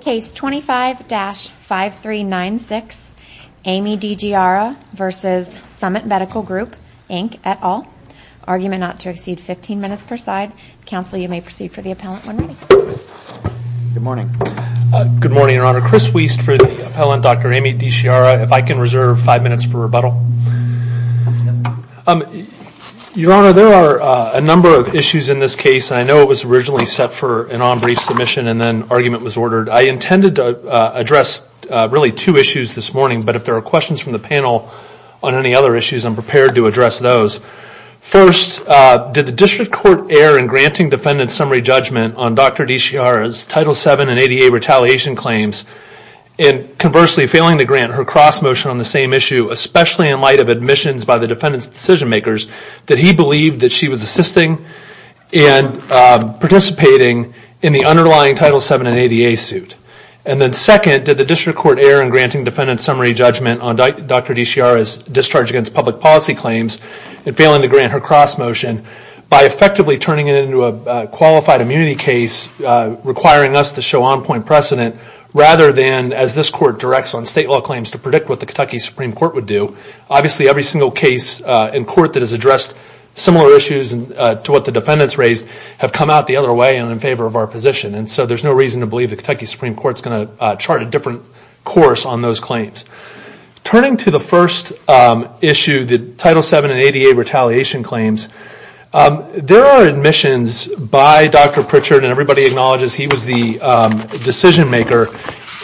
Case 25-5396, Amy Dichiara v. Summit Medical Group, Inc. et al. Argument not to exceed 15 minutes per side. Counsel, you may proceed for the appellant when ready. Good morning. Good morning, Your Honor. Chris Wiest for the appellant, Dr. Amy Dichiara. If I can reserve five minutes for rebuttal. Your Honor, there are a number of issues in this case, and I know it was originally set for an on-brief submission, and then argument was ordered. I intended to address really two issues this morning, but if there are questions from the panel on any other issues, I'm prepared to address those. First, did the district court err in granting defendant's summary judgment on Dr. Dichiara's Title VII and ADA retaliation claims, and conversely failing to grant her cross-motion on the same issue, especially in light of admissions by the defendant's decision-makers, that he believed that she was assisting and participating in the underlying Title VII and ADA suit? And then second, did the district court err in granting defendant's summary judgment on Dr. Dichiara's discharge against public policy claims and failing to grant her cross-motion by effectively turning it into a qualified immunity case, requiring us to show on-point precedent, rather than, as this court directs on state law claims, to predict what the Kentucky Supreme Court would do? Obviously, every single case in court that has addressed similar issues to what the defendants raised have come out the other way and in favor of our position, and so there's no reason to believe the Kentucky Supreme Court is going to chart a different course on those claims. Turning to the first issue, the Title VII and ADA retaliation claims, there are admissions by Dr. Pritchard, and everybody acknowledges he was the decision-maker,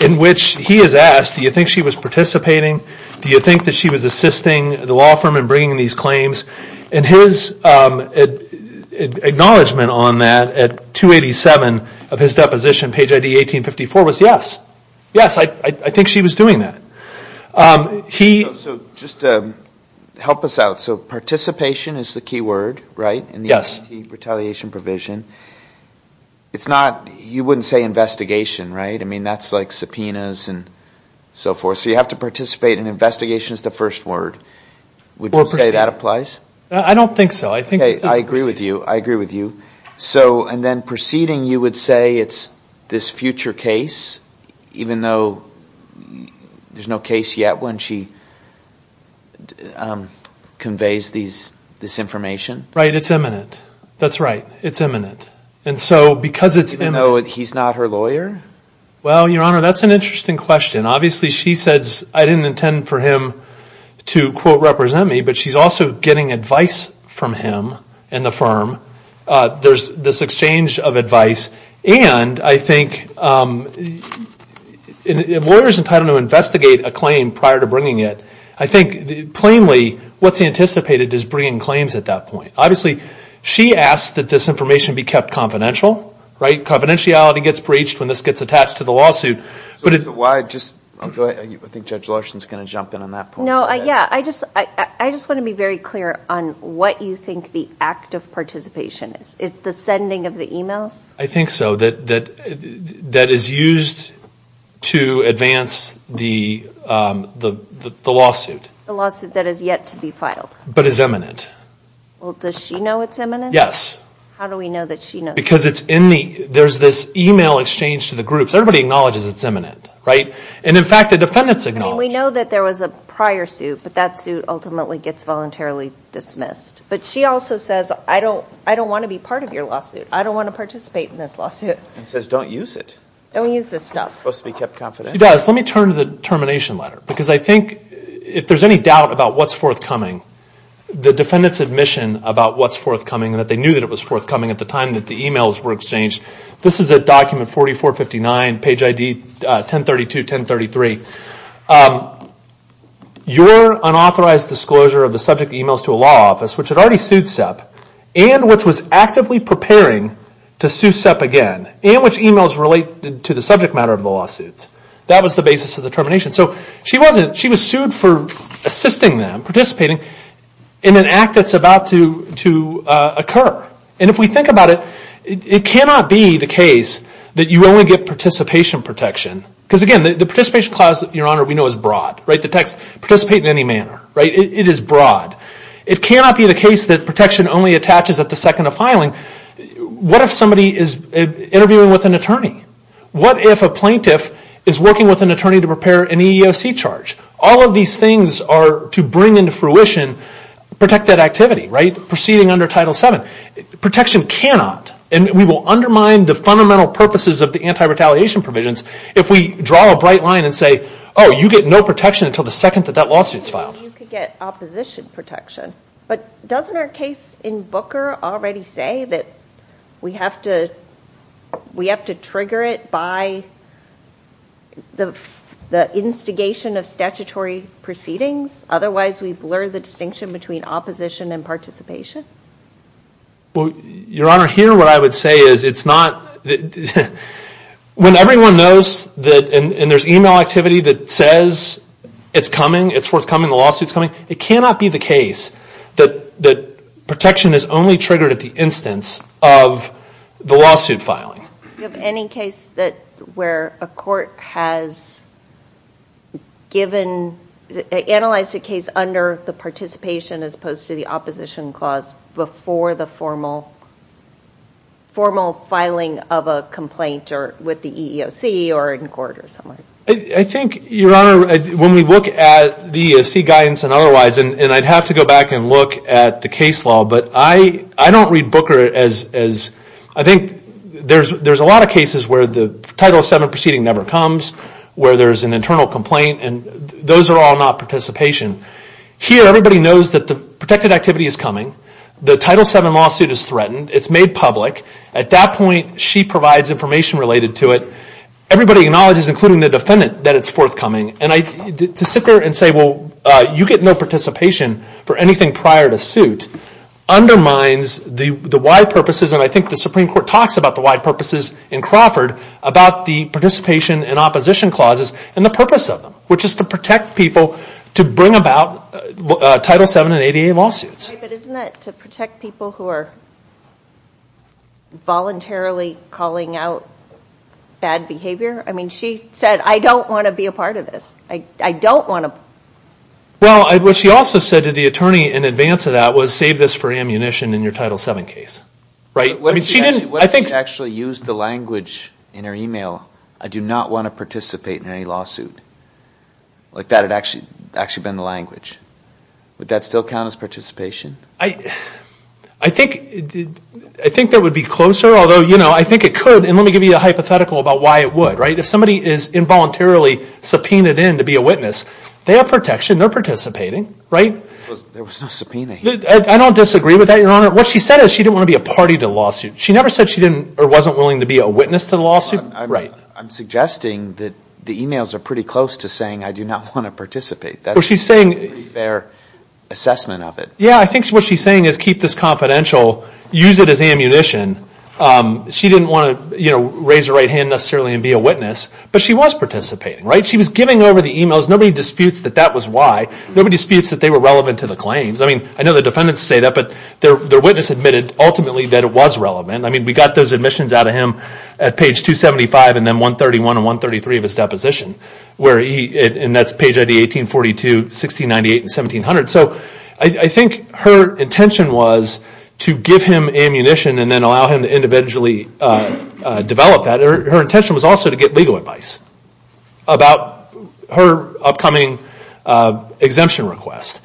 in which he is asked, do you think she was participating? Do you think that she was assisting the law firm in bringing these claims? And his acknowledgment on that at 287 of his deposition, page ID 1854, was yes. Yes, I think she was doing that. He... So just help us out. So participation is the key word, right? Yes. In the retaliation provision. It's not, you wouldn't say investigation, right? I mean, that's like subpoenas and so forth. So you have to participate, and investigation is the first word. Would you say that applies? I don't think so. Okay, I agree with you. I agree with you. So, and then proceeding, you would say it's this future case, even though there's no case yet when she conveys this information? Right, it's imminent. That's right. It's imminent. And so because it's imminent... Even though he's not her lawyer? Well, Your Honor, that's an interesting question. Obviously, she says, I didn't intend for him to, quote, represent me, but she's also getting advice from him and the firm. There's this exchange of advice, and I think if a lawyer is entitled to investigate a claim prior to bringing it, I think plainly what's anticipated is bringing claims at that point. Obviously, she asks that this information be kept confidential, right? Confidentiality gets breached when this gets attached to the lawsuit. I think Judge Larson is going to jump in on that point. No, yeah. I just want to be very clear on what you think the act of participation is. It's the sending of the emails? I think so, that is used to advance the lawsuit. The lawsuit that is yet to be filed. But is imminent. Well, does she know it's imminent? Yes. How do we know that she knows? Because there's this email exchange to the groups. Everybody acknowledges it's imminent, right? And, in fact, the defendants acknowledge it. I mean, we know that there was a prior suit, but that suit ultimately gets voluntarily dismissed. But she also says, I don't want to be part of your lawsuit. I don't want to participate in this lawsuit. And says, don't use it. Don't use this stuff. It's supposed to be kept confidential. She does. Let me turn to the termination letter, because I think if there's any doubt about what's forthcoming, the defendants' admission about what's forthcoming and that they knew that it was forthcoming at the time that the emails were exchanged. This is at document 4459, page ID 1032, 1033. Your unauthorized disclosure of the subject emails to a law office, which had already sued SEP, and which was actively preparing to sue SEP again, and which emails related to the subject matter of the lawsuits. That was the basis of the termination. So she was sued for assisting them, participating, in an act that's about to occur. And if we think about it, it cannot be the case that you only get participation protection. Because again, the participation clause, Your Honor, we know is broad. The text, participate in any manner. It is broad. It cannot be the case that protection only attaches at the second of filing. What if somebody is interviewing with an attorney? What if a plaintiff is working with an attorney to prepare an EEOC charge? All of these things are to bring into fruition protected activity, right? Protection cannot. And we will undermine the fundamental purposes of the anti-retaliation provisions if we draw a bright line and say, oh, you get no protection until the second that that lawsuit is filed. You could get opposition protection. But doesn't our case in Booker already say that we have to trigger it by the instigation of statutory proceedings? Otherwise, we blur the distinction between opposition and participation? Well, Your Honor, here what I would say is it's not, when everyone knows that, and there's e-mail activity that says it's coming, it's forthcoming, the lawsuit's coming, it cannot be the case that protection is only triggered at the instance of the lawsuit filing. Do you have any case where a court has analyzed a case under the participation as opposed to the opposition clause before the formal filing of a complaint or with the EEOC or in court or somewhere? I think, Your Honor, when we look at the EEOC guidance and otherwise, and I'd have to go back and look at the case law, but I don't read Booker as, I think there's a lot of cases where the Title VII proceeding never comes, where there's an internal complaint, and those are all not participation. Here, everybody knows that the protected activity is coming. The Title VII lawsuit is threatened. It's made public. At that point, she provides information related to it. Everybody acknowledges, including the defendant, that it's forthcoming. To sit there and say, well, you get no participation for anything prior to suit undermines the wide purposes, and I think the Supreme Court talks about the wide purposes in Crawford, about the participation and opposition clauses and the purpose of them, which is to protect people to bring about Title VII and ADA lawsuits. But isn't that to protect people who are voluntarily calling out bad behavior? I mean, she said, I don't want to be a part of this. I don't want to. Well, what she also said to the attorney in advance of that was, save this for ammunition in your Title VII case. What if she actually used the language in her email, I do not want to participate in any lawsuit? Like that had actually been the language. Would that still count as participation? I think that would be closer, although, you know, I think it could, and let me give you a hypothetical about why it would, right? If somebody is involuntarily subpoenaed in to be a witness, they have protection, they're participating, right? There was no subpoena here. I don't disagree with that, Your Honor. What she said is she didn't want to be a party to the lawsuit. She never said she didn't or wasn't willing to be a witness to the lawsuit. I'm suggesting that the emails are pretty close to saying, I do not want to participate. That's a pretty fair assessment of it. Yeah, I think what she's saying is keep this confidential, use it as ammunition. She didn't want to raise her right hand necessarily and be a witness, but she was participating, right? She was giving over the emails. Nobody disputes that that was why. Nobody disputes that they were relevant to the claims. I mean, I know the defendants say that, but their witness admitted ultimately that it was relevant. I mean, we got those admissions out of him at page 275 and then 131 and 133 of his deposition, and that's page ID 1842, 1698, and 1700. So I think her intention was to give him ammunition and then allow him to individually develop that. Her intention was also to get legal advice about her upcoming exemption request.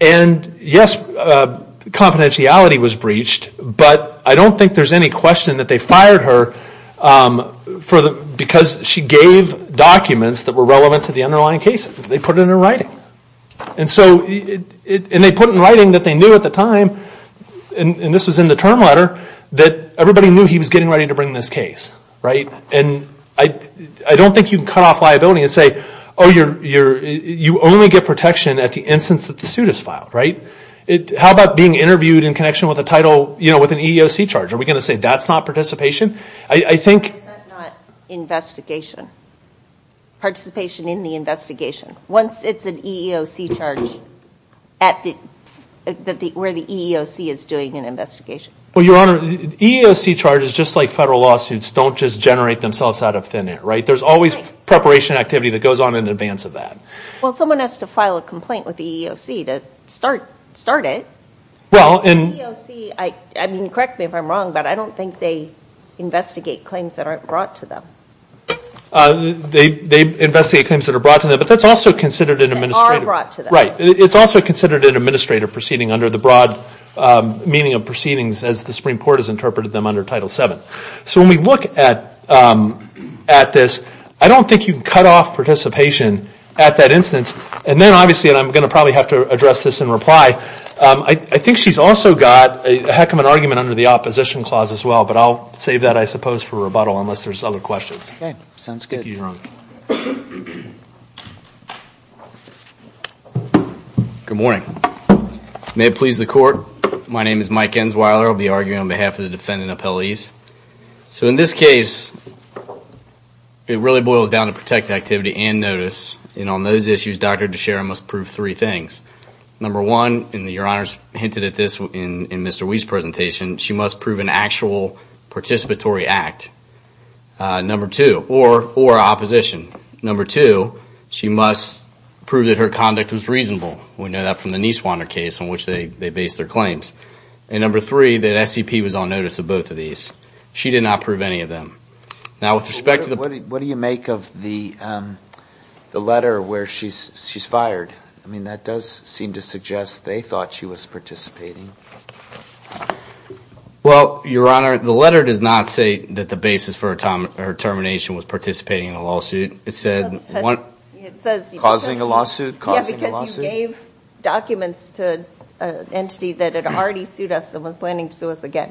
And yes, confidentiality was breached, but I don't think there's any question that they fired her because she gave documents that were relevant to the underlying cases. They put it in her writing. And they put it in writing that they knew at the time, and this was in the term letter, that everybody knew he was getting ready to bring this case, right? And I don't think you can cut off liability and say, oh, you only get protection at the instance that the suit is filed, right? How about being interviewed in connection with a title, you know, with an EEOC charge? Are we going to say that's not participation? I think— That's not investigation. Participation in the investigation. Once it's an EEOC charge where the EEOC is doing an investigation. Well, Your Honor, EEOC charges, just like federal lawsuits, don't just generate themselves out of thin air, right? There's always preparation activity that goes on in advance of that. Well, someone has to file a complaint with the EEOC to start it. Well, and— The EEOC, I mean, correct me if I'm wrong, but I don't think they investigate claims that aren't brought to them. They investigate claims that are brought to them, but that's also considered an administrative— That are brought to them. Right. It's also considered an administrative proceeding under the broad meaning of proceedings as the Supreme Court has interpreted them under Title VII. So when we look at this, I don't think you can cut off participation at that instance. And then, obviously, and I'm going to probably have to address this in reply, I think she's also got a heck of an argument under the opposition clause as well, but I'll save that, I suppose, for rebuttal unless there's other questions. Okay. Sounds good. Thank you, Your Honor. Good morning. May it please the Court, my name is Mike Ensweiler. I'll be arguing on behalf of the Defendant Appellees. So in this case, it really boils down to protected activity and notice. And on those issues, Dr. DeShera must prove three things. Number one, and Your Honor hinted at this in Mr. Wee's presentation, she must prove an actual participatory act. Number two, or opposition. Number two, she must prove that her conduct was reasonable. We know that from the Nieswander case in which they based their claims. And number three, that SCP was on notice of both of these. She did not prove any of them. Now, with respect to the What do you make of the letter where she's fired? I mean, that does seem to suggest they thought she was participating. Well, Your Honor, the letter does not say that the basis for her termination was participating in a lawsuit. It said Causing a lawsuit, causing a lawsuit. Yeah, because you gave documents to an entity that had already sued us and was planning to sue us again.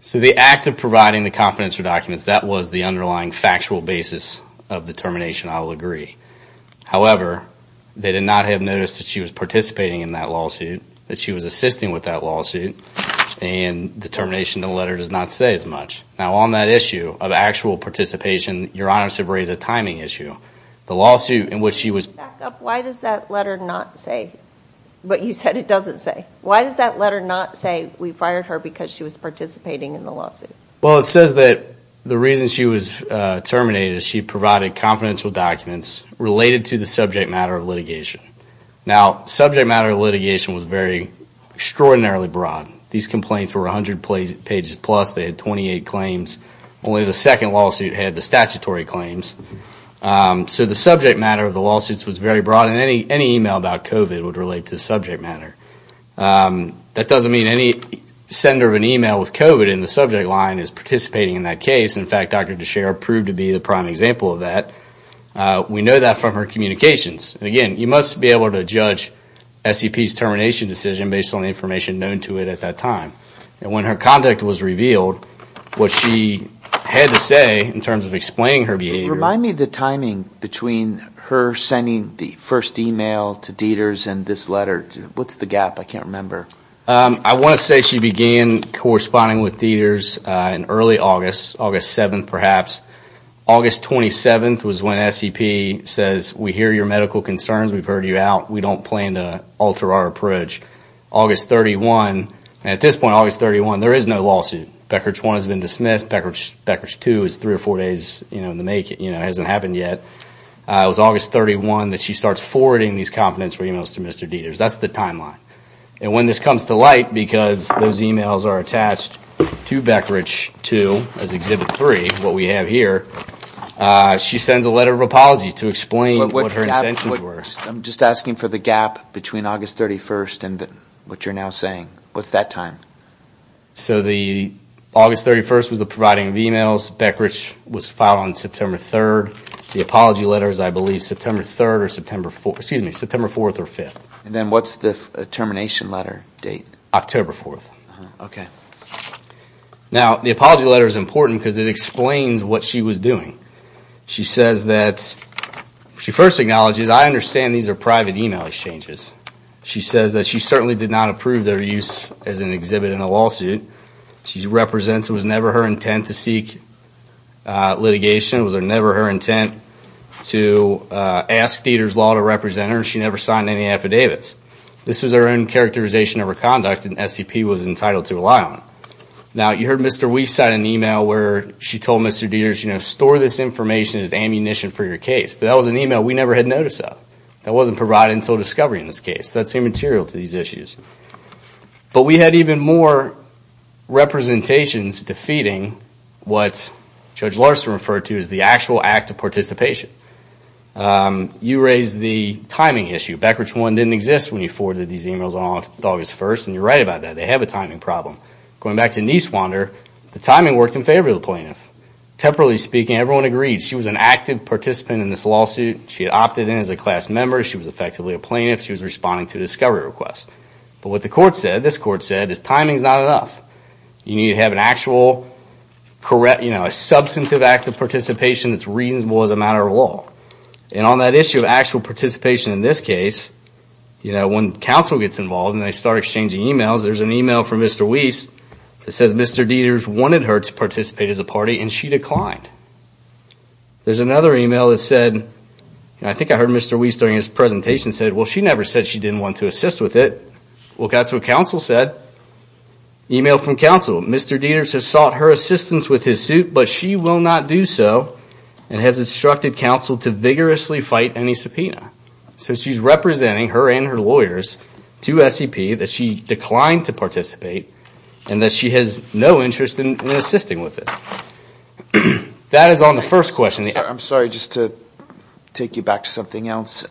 So the act of providing the confidential documents, that was the underlying factual basis of the termination, I'll agree. However, they did not have notice that she was participating in that lawsuit, that she was assisting with that lawsuit, and the termination of the letter does not say as much. Now, on that issue of actual participation, Your Honor, to raise a timing issue. The lawsuit in which she was Back up. Why does that letter not say what you said it doesn't say? Why does that letter not say we fired her because she was participating in the lawsuit? Well, it says that the reason she was terminated is she provided confidential documents related to the subject matter of litigation. Now, subject matter of litigation was very extraordinarily broad. These complaints were 100 pages plus. They had 28 claims. Only the second lawsuit had the statutory claims. So the subject matter of the lawsuits was very broad, and any email about COVID would relate to the subject matter. That doesn't mean any sender of an email with COVID in the subject line is participating in that case. In fact, Dr. Deshera proved to be the prime example of that. We know that from her communications. Again, you must be able to judge SEP's termination decision based on the information known to it at that time. And when her conduct was revealed, what she had to say in terms of explaining her behavior Remind me the timing between her sending the first email to Dieters and this letter. What's the gap? I can't remember. I want to say she began corresponding with Dieters in early August, August 7th perhaps. August 27th was when SEP says, We hear your medical concerns. We've heard you out. We don't plan to alter our approach. August 31, and at this point, August 31, there is no lawsuit. Beckridge 1 has been dismissed. Beckridge 2 is three or four days in the making. It hasn't happened yet. It was August 31 that she starts forwarding these confidential emails to Mr. Dieters. That's the timeline. And when this comes to light, because those emails are attached to Beckridge 2 as Exhibit 3, what we have here, she sends a letter of apology to explain what her intentions were. I'm just asking for the gap between August 31 and what you're now saying. What's that time? So August 31 was the providing of emails. Beckridge was filed on September 3. The apology letter is, I believe, September 3 or September 4. Excuse me, September 4 or 5. And then what's the termination letter date? October 4. Okay. Now, the apology letter is important because it explains what she was doing. She says that she first acknowledges, I understand these are private email exchanges. She says that she certainly did not approve their use as an exhibit in a lawsuit. She represents it was never her intent to seek litigation. It was never her intent to ask Dieters' law to represent her. She never signed any affidavits. This was her own characterization of her conduct, and SCP was entitled to rely on it. Now, you heard Mr. Weiss sign an email where she told Mr. Dieters, store this information as ammunition for your case. But that was an email we never had notice of. That wasn't provided until discovery in this case. That's immaterial to these issues. But we had even more representations defeating what Judge Larson referred to as the actual act of participation. You raised the timing issue. Becker's one didn't exist when you forwarded these emails on August 1st, and you're right about that. They have a timing problem. Going back to Niswander, the timing worked in favor of the plaintiff. Temporarily speaking, everyone agreed she was an active participant in this lawsuit. She had opted in as a class member. She was effectively a plaintiff. She was responding to a discovery request. But what the court said, this court said, is timing is not enough. You need to have an actual substantive act of participation that's reasonable as a matter of law. And on that issue of actual participation in this case, when counsel gets involved and they start exchanging emails, there's an email from Mr. Wiest that says Mr. Dieters wanted her to participate as a party and she declined. There's another email that said, I think I heard Mr. Wiest during his presentation said, well, she never said she didn't want to assist with it. Well, that's what counsel said. Email from counsel. Mr. Dieters has sought her assistance with his suit, but she will not do so and has instructed counsel to vigorously fight any subpoena. So she's representing her and her lawyers to SEP that she declined to participate and that she has no interest in assisting with it. That is on the first question. I'm sorry, just to take you back to something else.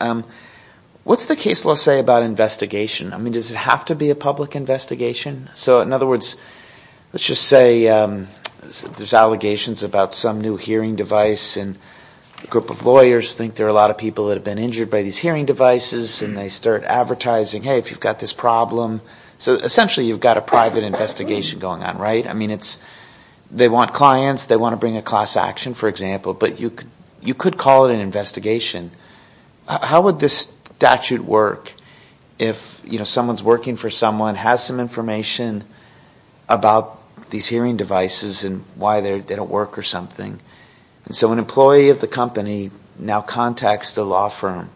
What's the case law say about investigation? I mean, does it have to be a public investigation? So in other words, let's just say there's allegations about some new hearing device and a group of lawyers think there are a lot of people that have been injured by these hearing devices and they start advertising, hey, if you've got this problem. So essentially you've got a private investigation going on, right? I mean, they want clients, they want to bring a class action, for example, but you could call it an investigation. How would this statute work if someone's working for someone, has some information about these hearing devices and why they don't work or something? So an employee of the company now contacts the law firm.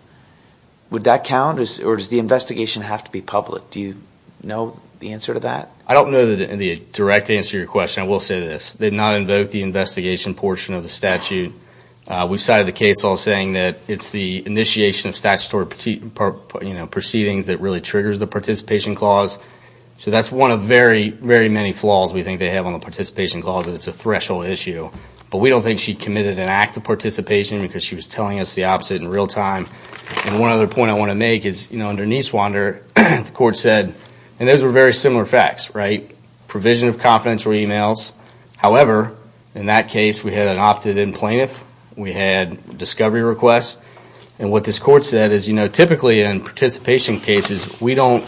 Would that count or does the investigation have to be public? Do you know the answer to that? I don't know the direct answer to your question. I will say this. They did not invoke the investigation portion of the statute. We've cited the case law saying that it's the initiation of statutory proceedings that really triggers the participation clause. So that's one of very, very many flaws we think they have on the participation clause, that it's a threshold issue. But we don't think she committed an act of participation because she was telling us the opposite in real time. And one other point I want to make is, you know, under Niswander, the court said, and those were very similar facts, right? Provision of confidential emails. However, in that case, we had an opted-in plaintiff. We had discovery requests. And what this court said is, you know, typically in participation cases, we don't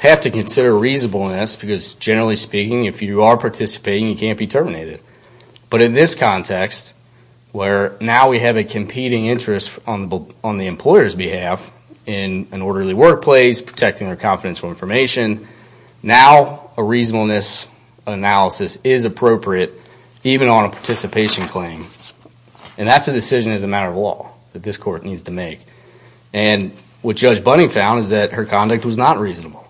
have to consider reasonableness because, generally speaking, if you are participating, you can't be terminated. But in this context, where now we have a competing interest on the employer's behalf in an orderly workplace, protecting their confidential information, now a reasonableness analysis is appropriate even on a participation claim. And that's a decision as a matter of law that this court needs to make. And what Judge Bunning found is that her conduct was not reasonable.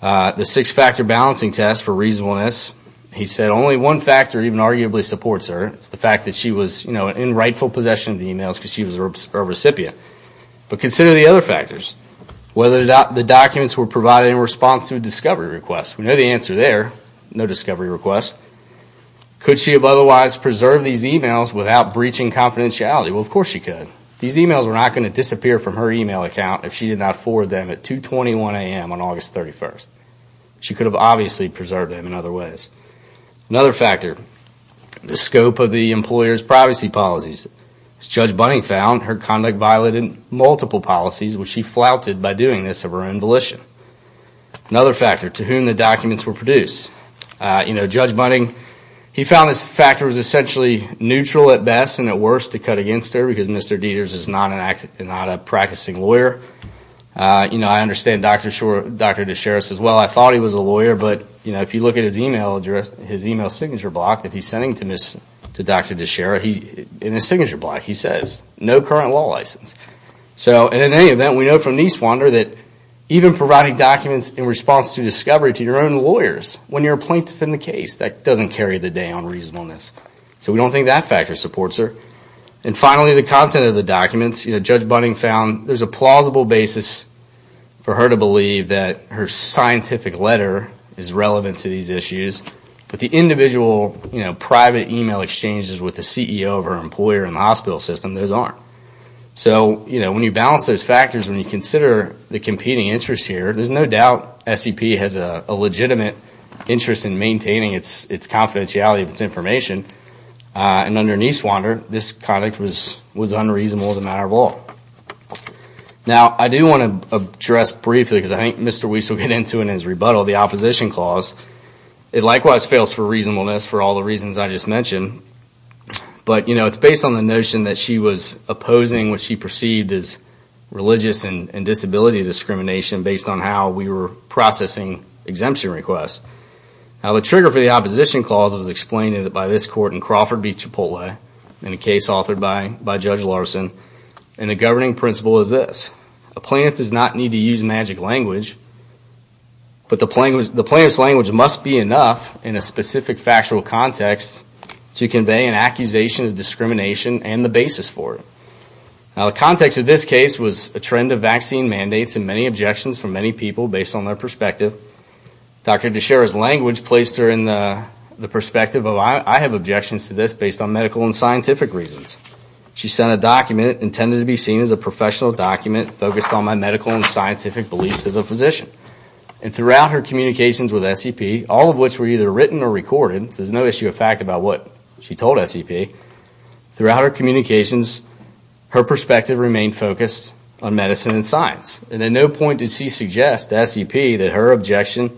The six-factor balancing test for reasonableness, he said only one factor even arguably supports her. It's the fact that she was, you know, in rightful possession of the emails because she was a recipient. But consider the other factors. Whether the documents were provided in response to a discovery request. We know the answer there, no discovery request. Could she have otherwise preserved these emails without breaching confidentiality? Well, of course she could. These emails were not going to disappear from her email account if she did not forward them at 221 a.m. on August 31st. She could have obviously preserved them in other ways. Another factor, the scope of the employer's privacy policies. As Judge Bunning found, her conduct violated multiple policies which she flouted by doing this of her own volition. Another factor, to whom the documents were produced. You know, Judge Bunning, he found this factor was essentially neutral at best and at worst to cut against her because Mr. Dieters is not a practicing lawyer. You know, I understand Dr. DeShera says, well, I thought he was a lawyer, but if you look at his email signature block that he's sending to Dr. DeShera, in his signature block he says, no current law license. So in any event, we know from Niswander that even providing documents in response to discovery to your own lawyers when you're a plaintiff in the case, that doesn't carry the day on reasonableness. So we don't think that factor supports her. And finally, the content of the documents. You know, Judge Bunning found there's a plausible basis for her to believe that her scientific letter is relevant to these issues, but the individual private email exchanges with the CEO of her employer in the hospital system, those aren't. So, you know, when you balance those factors, when you consider the competing interests here, there's no doubt SEP has a legitimate interest in maintaining its confidentiality of its information. And under Niswander, this conduct was unreasonable as a matter of law. Now, I do want to address briefly, because I think Mr. Weiss will get into it in his rebuttal, the opposition clause. It likewise fails for reasonableness for all the reasons I just mentioned. But, you know, it's based on the notion that she was opposing what she perceived as religious and disability discrimination based on how we were processing exemption requests. Now, the trigger for the opposition clause was explained by this court in Crawford v. Chipotle in a case authored by Judge Larson, and the governing principle is this. A plaintiff does not need to use magic language, but the plaintiff's language must be enough in a specific factual context to convey an accusation of discrimination and the basis for it. Now, the context of this case was a trend of vaccine mandates and many objections from many people based on their perspective. Dr. Deshera's language placed her in the perspective of, I have objections to this based on medical and scientific reasons. She sent a document intended to be seen as a professional document focused on my medical and scientific beliefs as a physician. And throughout her communications with SEP, all of which were either written or recorded, so there's no issue of fact about what she told SEP, throughout her communications, her perspective remained focused on medicine and science. And at no point did she suggest to SEP that her objection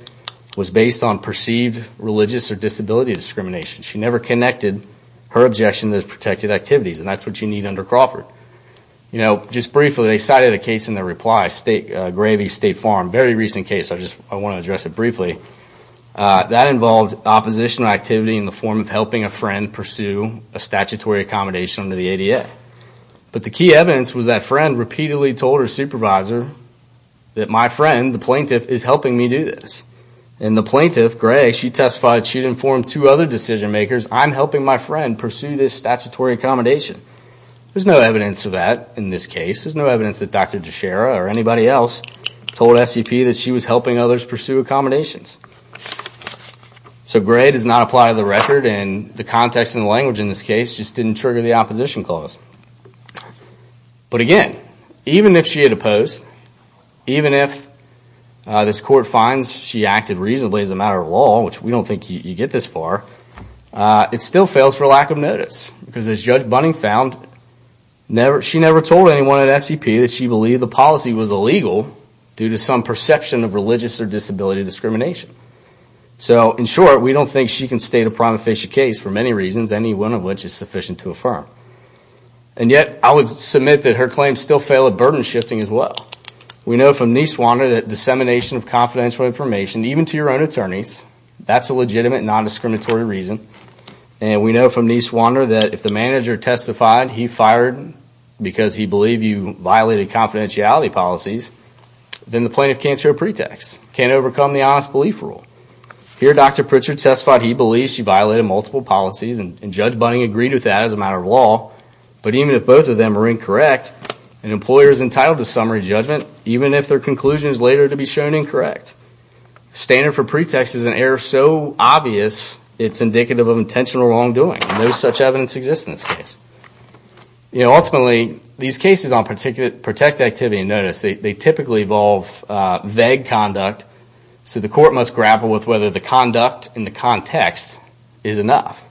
was based on perceived religious or disability discrimination. She never connected her objection to those protected activities, and that's what you need under Crawford. Just briefly, they cited a case in their reply, Gravy State Farm, a very recent case, I just want to address it briefly. That involved oppositional activity in the form of helping a friend pursue a statutory accommodation under the ADA. But the key evidence was that friend repeatedly told her supervisor that my friend, the plaintiff, is helping me do this. And the plaintiff, Gray, she testified she'd informed two other decision makers, I'm helping my friend pursue this statutory accommodation. There's no evidence of that in this case. There's no evidence that Dr. Deshara or anybody else told SEP that she was helping others pursue accommodations. So Gray does not apply to the record, and the context and the language in this case just didn't trigger the opposition clause. But again, even if she had opposed, even if this court finds she acted reasonably as a matter of law, which we don't think you get this far, it still fails for lack of notice. Because as Judge Bunning found, she never told anyone at SEP that she believed the policy was illegal due to some perception of religious or disability discrimination. So, in short, we don't think she can state a prima facie case for many reasons, any one of which is sufficient to affirm. And yet, I would submit that her claims still fail at burden shifting as well. We know from Niswander that dissemination of confidential information, even to your own attorneys, that's a legitimate non-discriminatory reason. And we know from Niswander that if the manager testified he fired because he believed you violated confidentiality policies, then the plaintiff can't show a pretext, can't overcome the honest belief rule. Here, Dr. Pritchard testified he believed she violated multiple policies, and Judge Bunning agreed with that as a matter of law. But even if both of them are incorrect, an employer is entitled to summary judgment, even if their conclusion is later to be shown incorrect. Standard for pretext is an error so obvious it's indicative of intentional wrongdoing. No such evidence exists in this case. Ultimately, these cases on protected activity, notice they typically involve vague conduct, so the court must grapple with whether the conduct in the context is enough.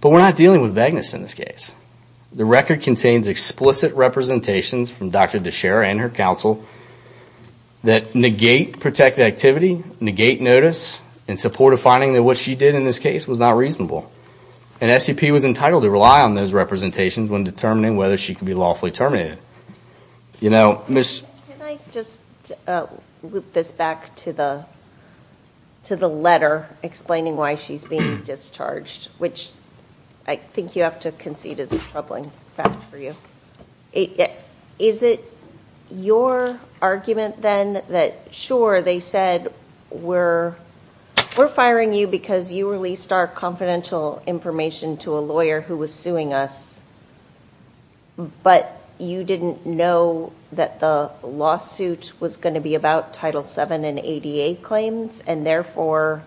But we're not dealing with vagueness in this case. The record contains explicit representations from Dr. Deshera and her counsel that negate protected activity, negate notice, in support of finding that what she did in this case was not reasonable. And SCP was entitled to rely on those representations when determining whether she could be lawfully terminated. You know, Ms. Can I just loop this back to the letter explaining why she's being discharged, which I think you have to concede is a troubling fact for you. Is it your argument then that, sure, they said, we're firing you because you released our confidential information to a lawyer who was suing us, but you didn't know that the lawsuit was going to be about Title VII and ADA claims, and therefore,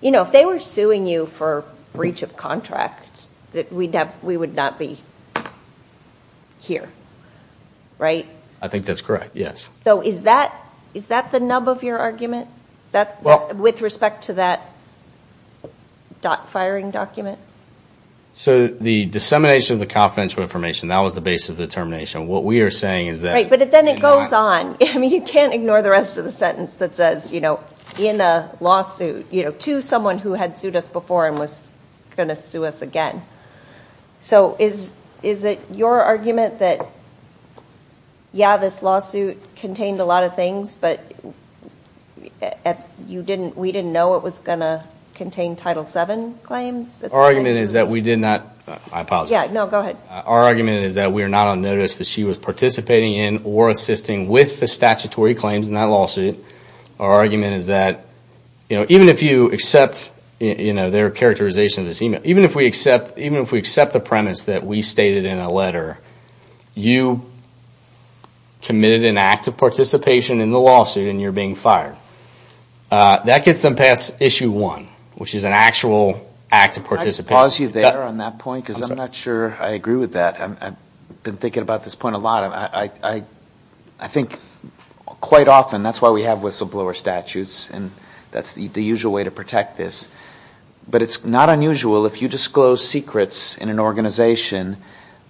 you know, if they were suing you for breach of contract, that we would not be here, right? I think that's correct, yes. So is that the nub of your argument with respect to that dot-firing document? So the dissemination of the confidential information, that was the basis of the termination. What we are saying is that— Right, but then it goes on. I mean, you can't ignore the rest of the sentence that says, you know, in a lawsuit to someone who had sued us before and was going to sue us again. So is it your argument that, yeah, this lawsuit contained a lot of things, but we didn't know it was going to contain Title VII claims? Our argument is that we did not—I apologize. Yeah, no, go ahead. Our argument is that we are not on notice that she was participating in or assisting with the statutory claims in that lawsuit. Our argument is that, you know, even if you accept, you know, their characterization of this email, even if we accept the premise that we stated in a letter, you committed an act of participation in the lawsuit and you're being fired. That gets them past Issue 1, which is an actual act of participation. Can I just pause you there on that point because I'm not sure I agree with that. I've been thinking about this point a lot. I think quite often that's why we have whistleblower statutes and that's the usual way to protect this. But it's not unusual if you disclose secrets in an organization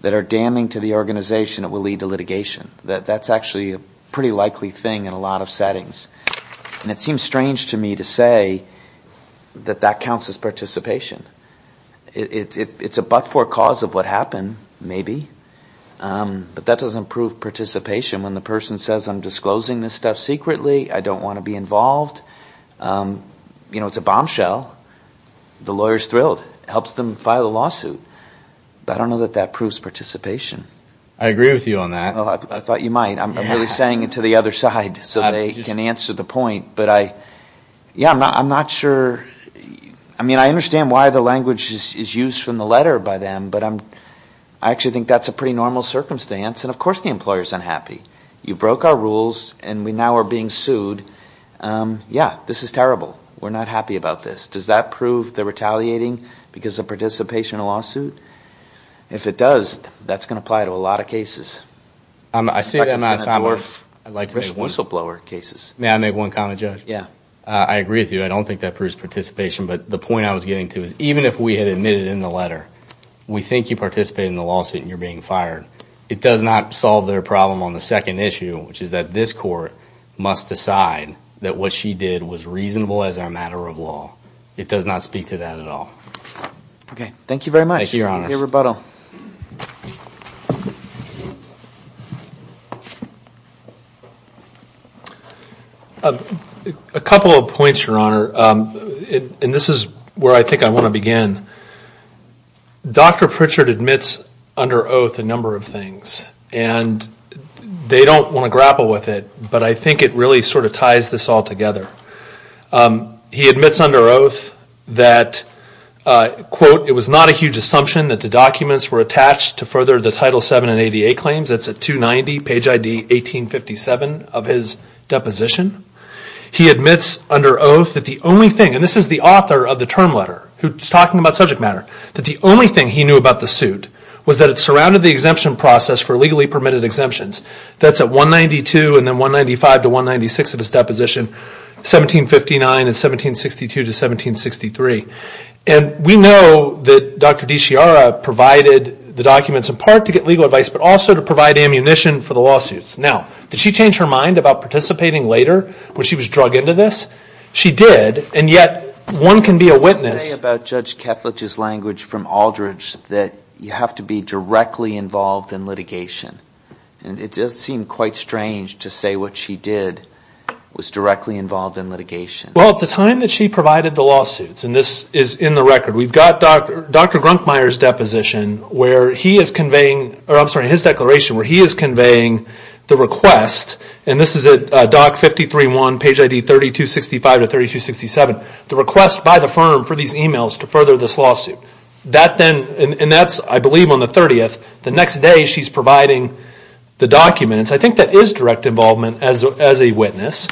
that are damning to the organization, it will lead to litigation. That's actually a pretty likely thing in a lot of settings. And it seems strange to me to say that that counts as participation. It's a but-for cause of what happened, maybe. But that doesn't prove participation when the person says, I'm disclosing this stuff secretly, I don't want to be involved. You know, it's a bombshell. The lawyer's thrilled. It helps them file a lawsuit. But I don't know that that proves participation. I agree with you on that. I thought you might. I'm really saying it to the other side so they can answer the point. But I, yeah, I'm not sure. I mean, I understand why the language is used from the letter by them, but I actually think that's a pretty normal circumstance. And, of course, the employer's unhappy. You broke our rules, and we now are being sued. Yeah, this is terrible. We're not happy about this. Does that prove the retaliating because of participation in a lawsuit? If it does, that's going to apply to a lot of cases. I see them outside of whistleblower cases. May I make one comment, Judge? Yeah. I agree with you. I don't think that proves participation. But the point I was getting to is even if we had admitted in the letter, we think you participated in the lawsuit and you're being fired. It does not solve their problem on the second issue, which is that this court must decide that what she did was reasonable as a matter of law. It does not speak to that at all. Okay. Thank you very much. Thank you, Your Honor. Any rebuttal? A couple of points, Your Honor. And this is where I think I want to begin. Dr. Pritchard admits under oath a number of things. And they don't want to grapple with it, but I think it really sort of ties this all together. He admits under oath that, quote, it was not a huge assumption that the documents were attached to further the Title VII and ADA claims. That's at 290 page ID 1857 of his deposition. He admits under oath that the only thing, and this is the author of the term letter, who's talking about subject matter, that the only thing he knew about the suit was that it surrounded the exemption process for legally permitted exemptions. That's at 192 and then 195 to 196 of his deposition, 1759 and 1762 to 1763. And we know that Dr. DeCiara provided the documents in part to get legal advice, but also to provide ammunition for the lawsuits. Now, did she change her mind about participating later when she was drug into this? She did, and yet, one can be a witness. You say about Judge Kethledge's language from Aldridge that you have to be directly involved in litigation. And it does seem quite strange to say what she did was directly involved in litigation. Well, at the time that she provided the lawsuits, and this is in the record, we've got Dr. Grunkmeier's deposition where he is conveying, or I'm sorry, his declaration where he is conveying the request, and this is at DOC 53-1, page ID 3265 to 3267, the request by the firm for these emails to further this lawsuit. And that's, I believe, on the 30th. The next day she's providing the documents. I think that is direct involvement as a witness.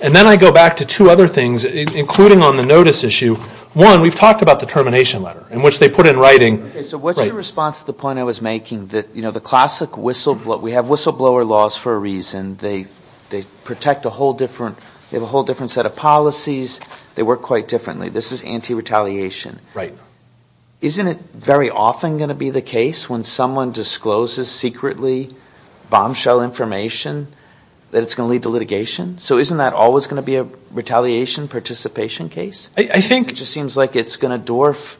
And then I go back to two other things, including on the notice issue. One, we've talked about the termination letter, in which they put in writing. So what's your response to the point I was making that, you know, the classic whistleblower, we have whistleblower laws for a reason. They protect a whole different set of policies. They work quite differently. This is anti-retaliation. Isn't it very often going to be the case when someone discloses secretly bombshell information that it's going to lead to litigation? So isn't that always going to be a retaliation participation case? I think. It just seems like it's going to dwarf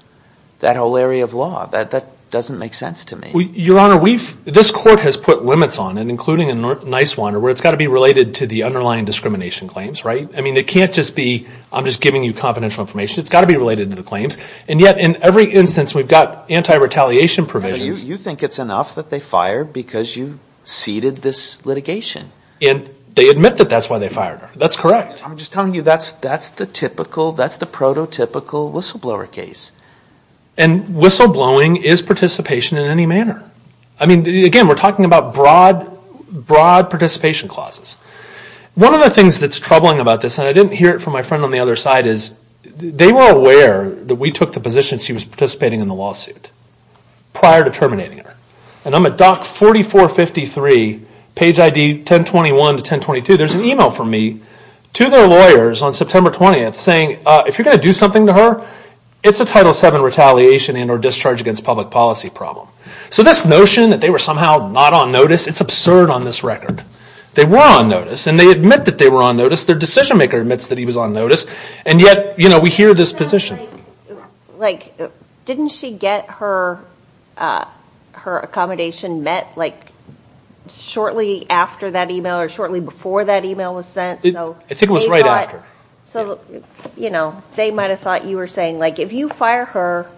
that whole area of law. That doesn't make sense to me. Your Honor, this court has put limits on it, including a nice one, where it's got to be related to the underlying discrimination claims, right? I mean, it can't just be I'm just giving you confidential information. It's got to be related to the claims. And yet, in every instance, we've got anti-retaliation provisions. You think it's enough that they fired because you ceded this litigation. And they admit that that's why they fired her. That's correct. I'm just telling you that's the typical, that's the prototypical whistleblower case. And whistleblowing is participation in any manner. I mean, again, we're talking about broad participation clauses. One of the things that's troubling about this, and I didn't hear it from my friend on the other side, is they were aware that we took the position she was participating in the lawsuit prior to terminating her. And I'm at Dock 4453, page ID 1021 to 1022. There's an email from me to their lawyers on September 20th saying, if you're going to do something to her, it's a Title VII retaliation and or discharge against public policy problem. So this notion that they were somehow not on notice, it's absurd on this record. They were on notice, and they admit that they were on notice. Their decision maker admits that he was on notice. And yet, you know, we hear this position. Like, didn't she get her accommodation met, like, shortly after that email or shortly before that email was sent? I think it was right after. So, you know, they might have thought you were saying, like, if you fire her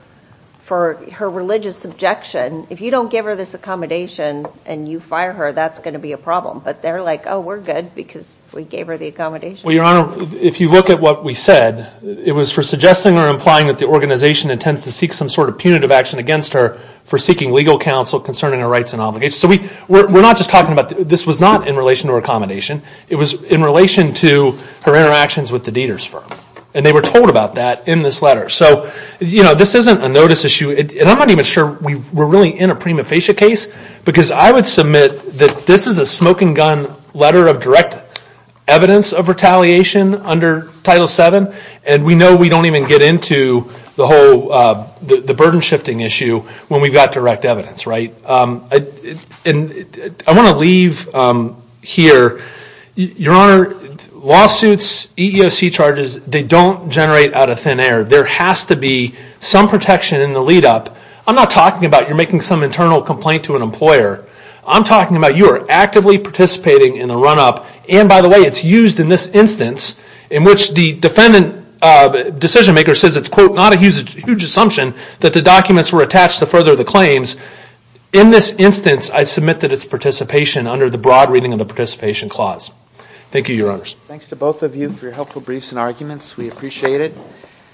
for her religious objection, if you don't give her this accommodation and you fire her, that's going to be a problem. But they're like, oh, we're good because we gave her the accommodation. Well, Your Honor, if you look at what we said, it was for suggesting or implying that the organization intends to seek some sort of punitive action against her for seeking legal counsel concerning her rights and obligations. So we're not just talking about this was not in relation to her accommodation. It was in relation to her interactions with the Dieter's firm. And they were told about that in this letter. So, you know, this isn't a notice issue. And I'm not even sure we're really in a prima facie case because I would submit that this is a smoking gun letter of direct evidence of retaliation under Title VII. And we know we don't even get into the whole burden shifting issue when we've got direct evidence, right? And I want to leave here, Your Honor, lawsuits, EEOC charges, they don't generate out of thin air. There has to be some protection in the lead-up. I'm not talking about you're making some internal complaint to an employer. I'm talking about you are actively participating in the run-up. And, by the way, it's used in this instance in which the defendant decision-maker says it's, quote, that the documents were attached to further the claims. In this instance, I submit that it's participation under the broad reading of the participation clause. Thank you, Your Honors. Thanks to both of you for your helpful briefs and arguments. We appreciate it.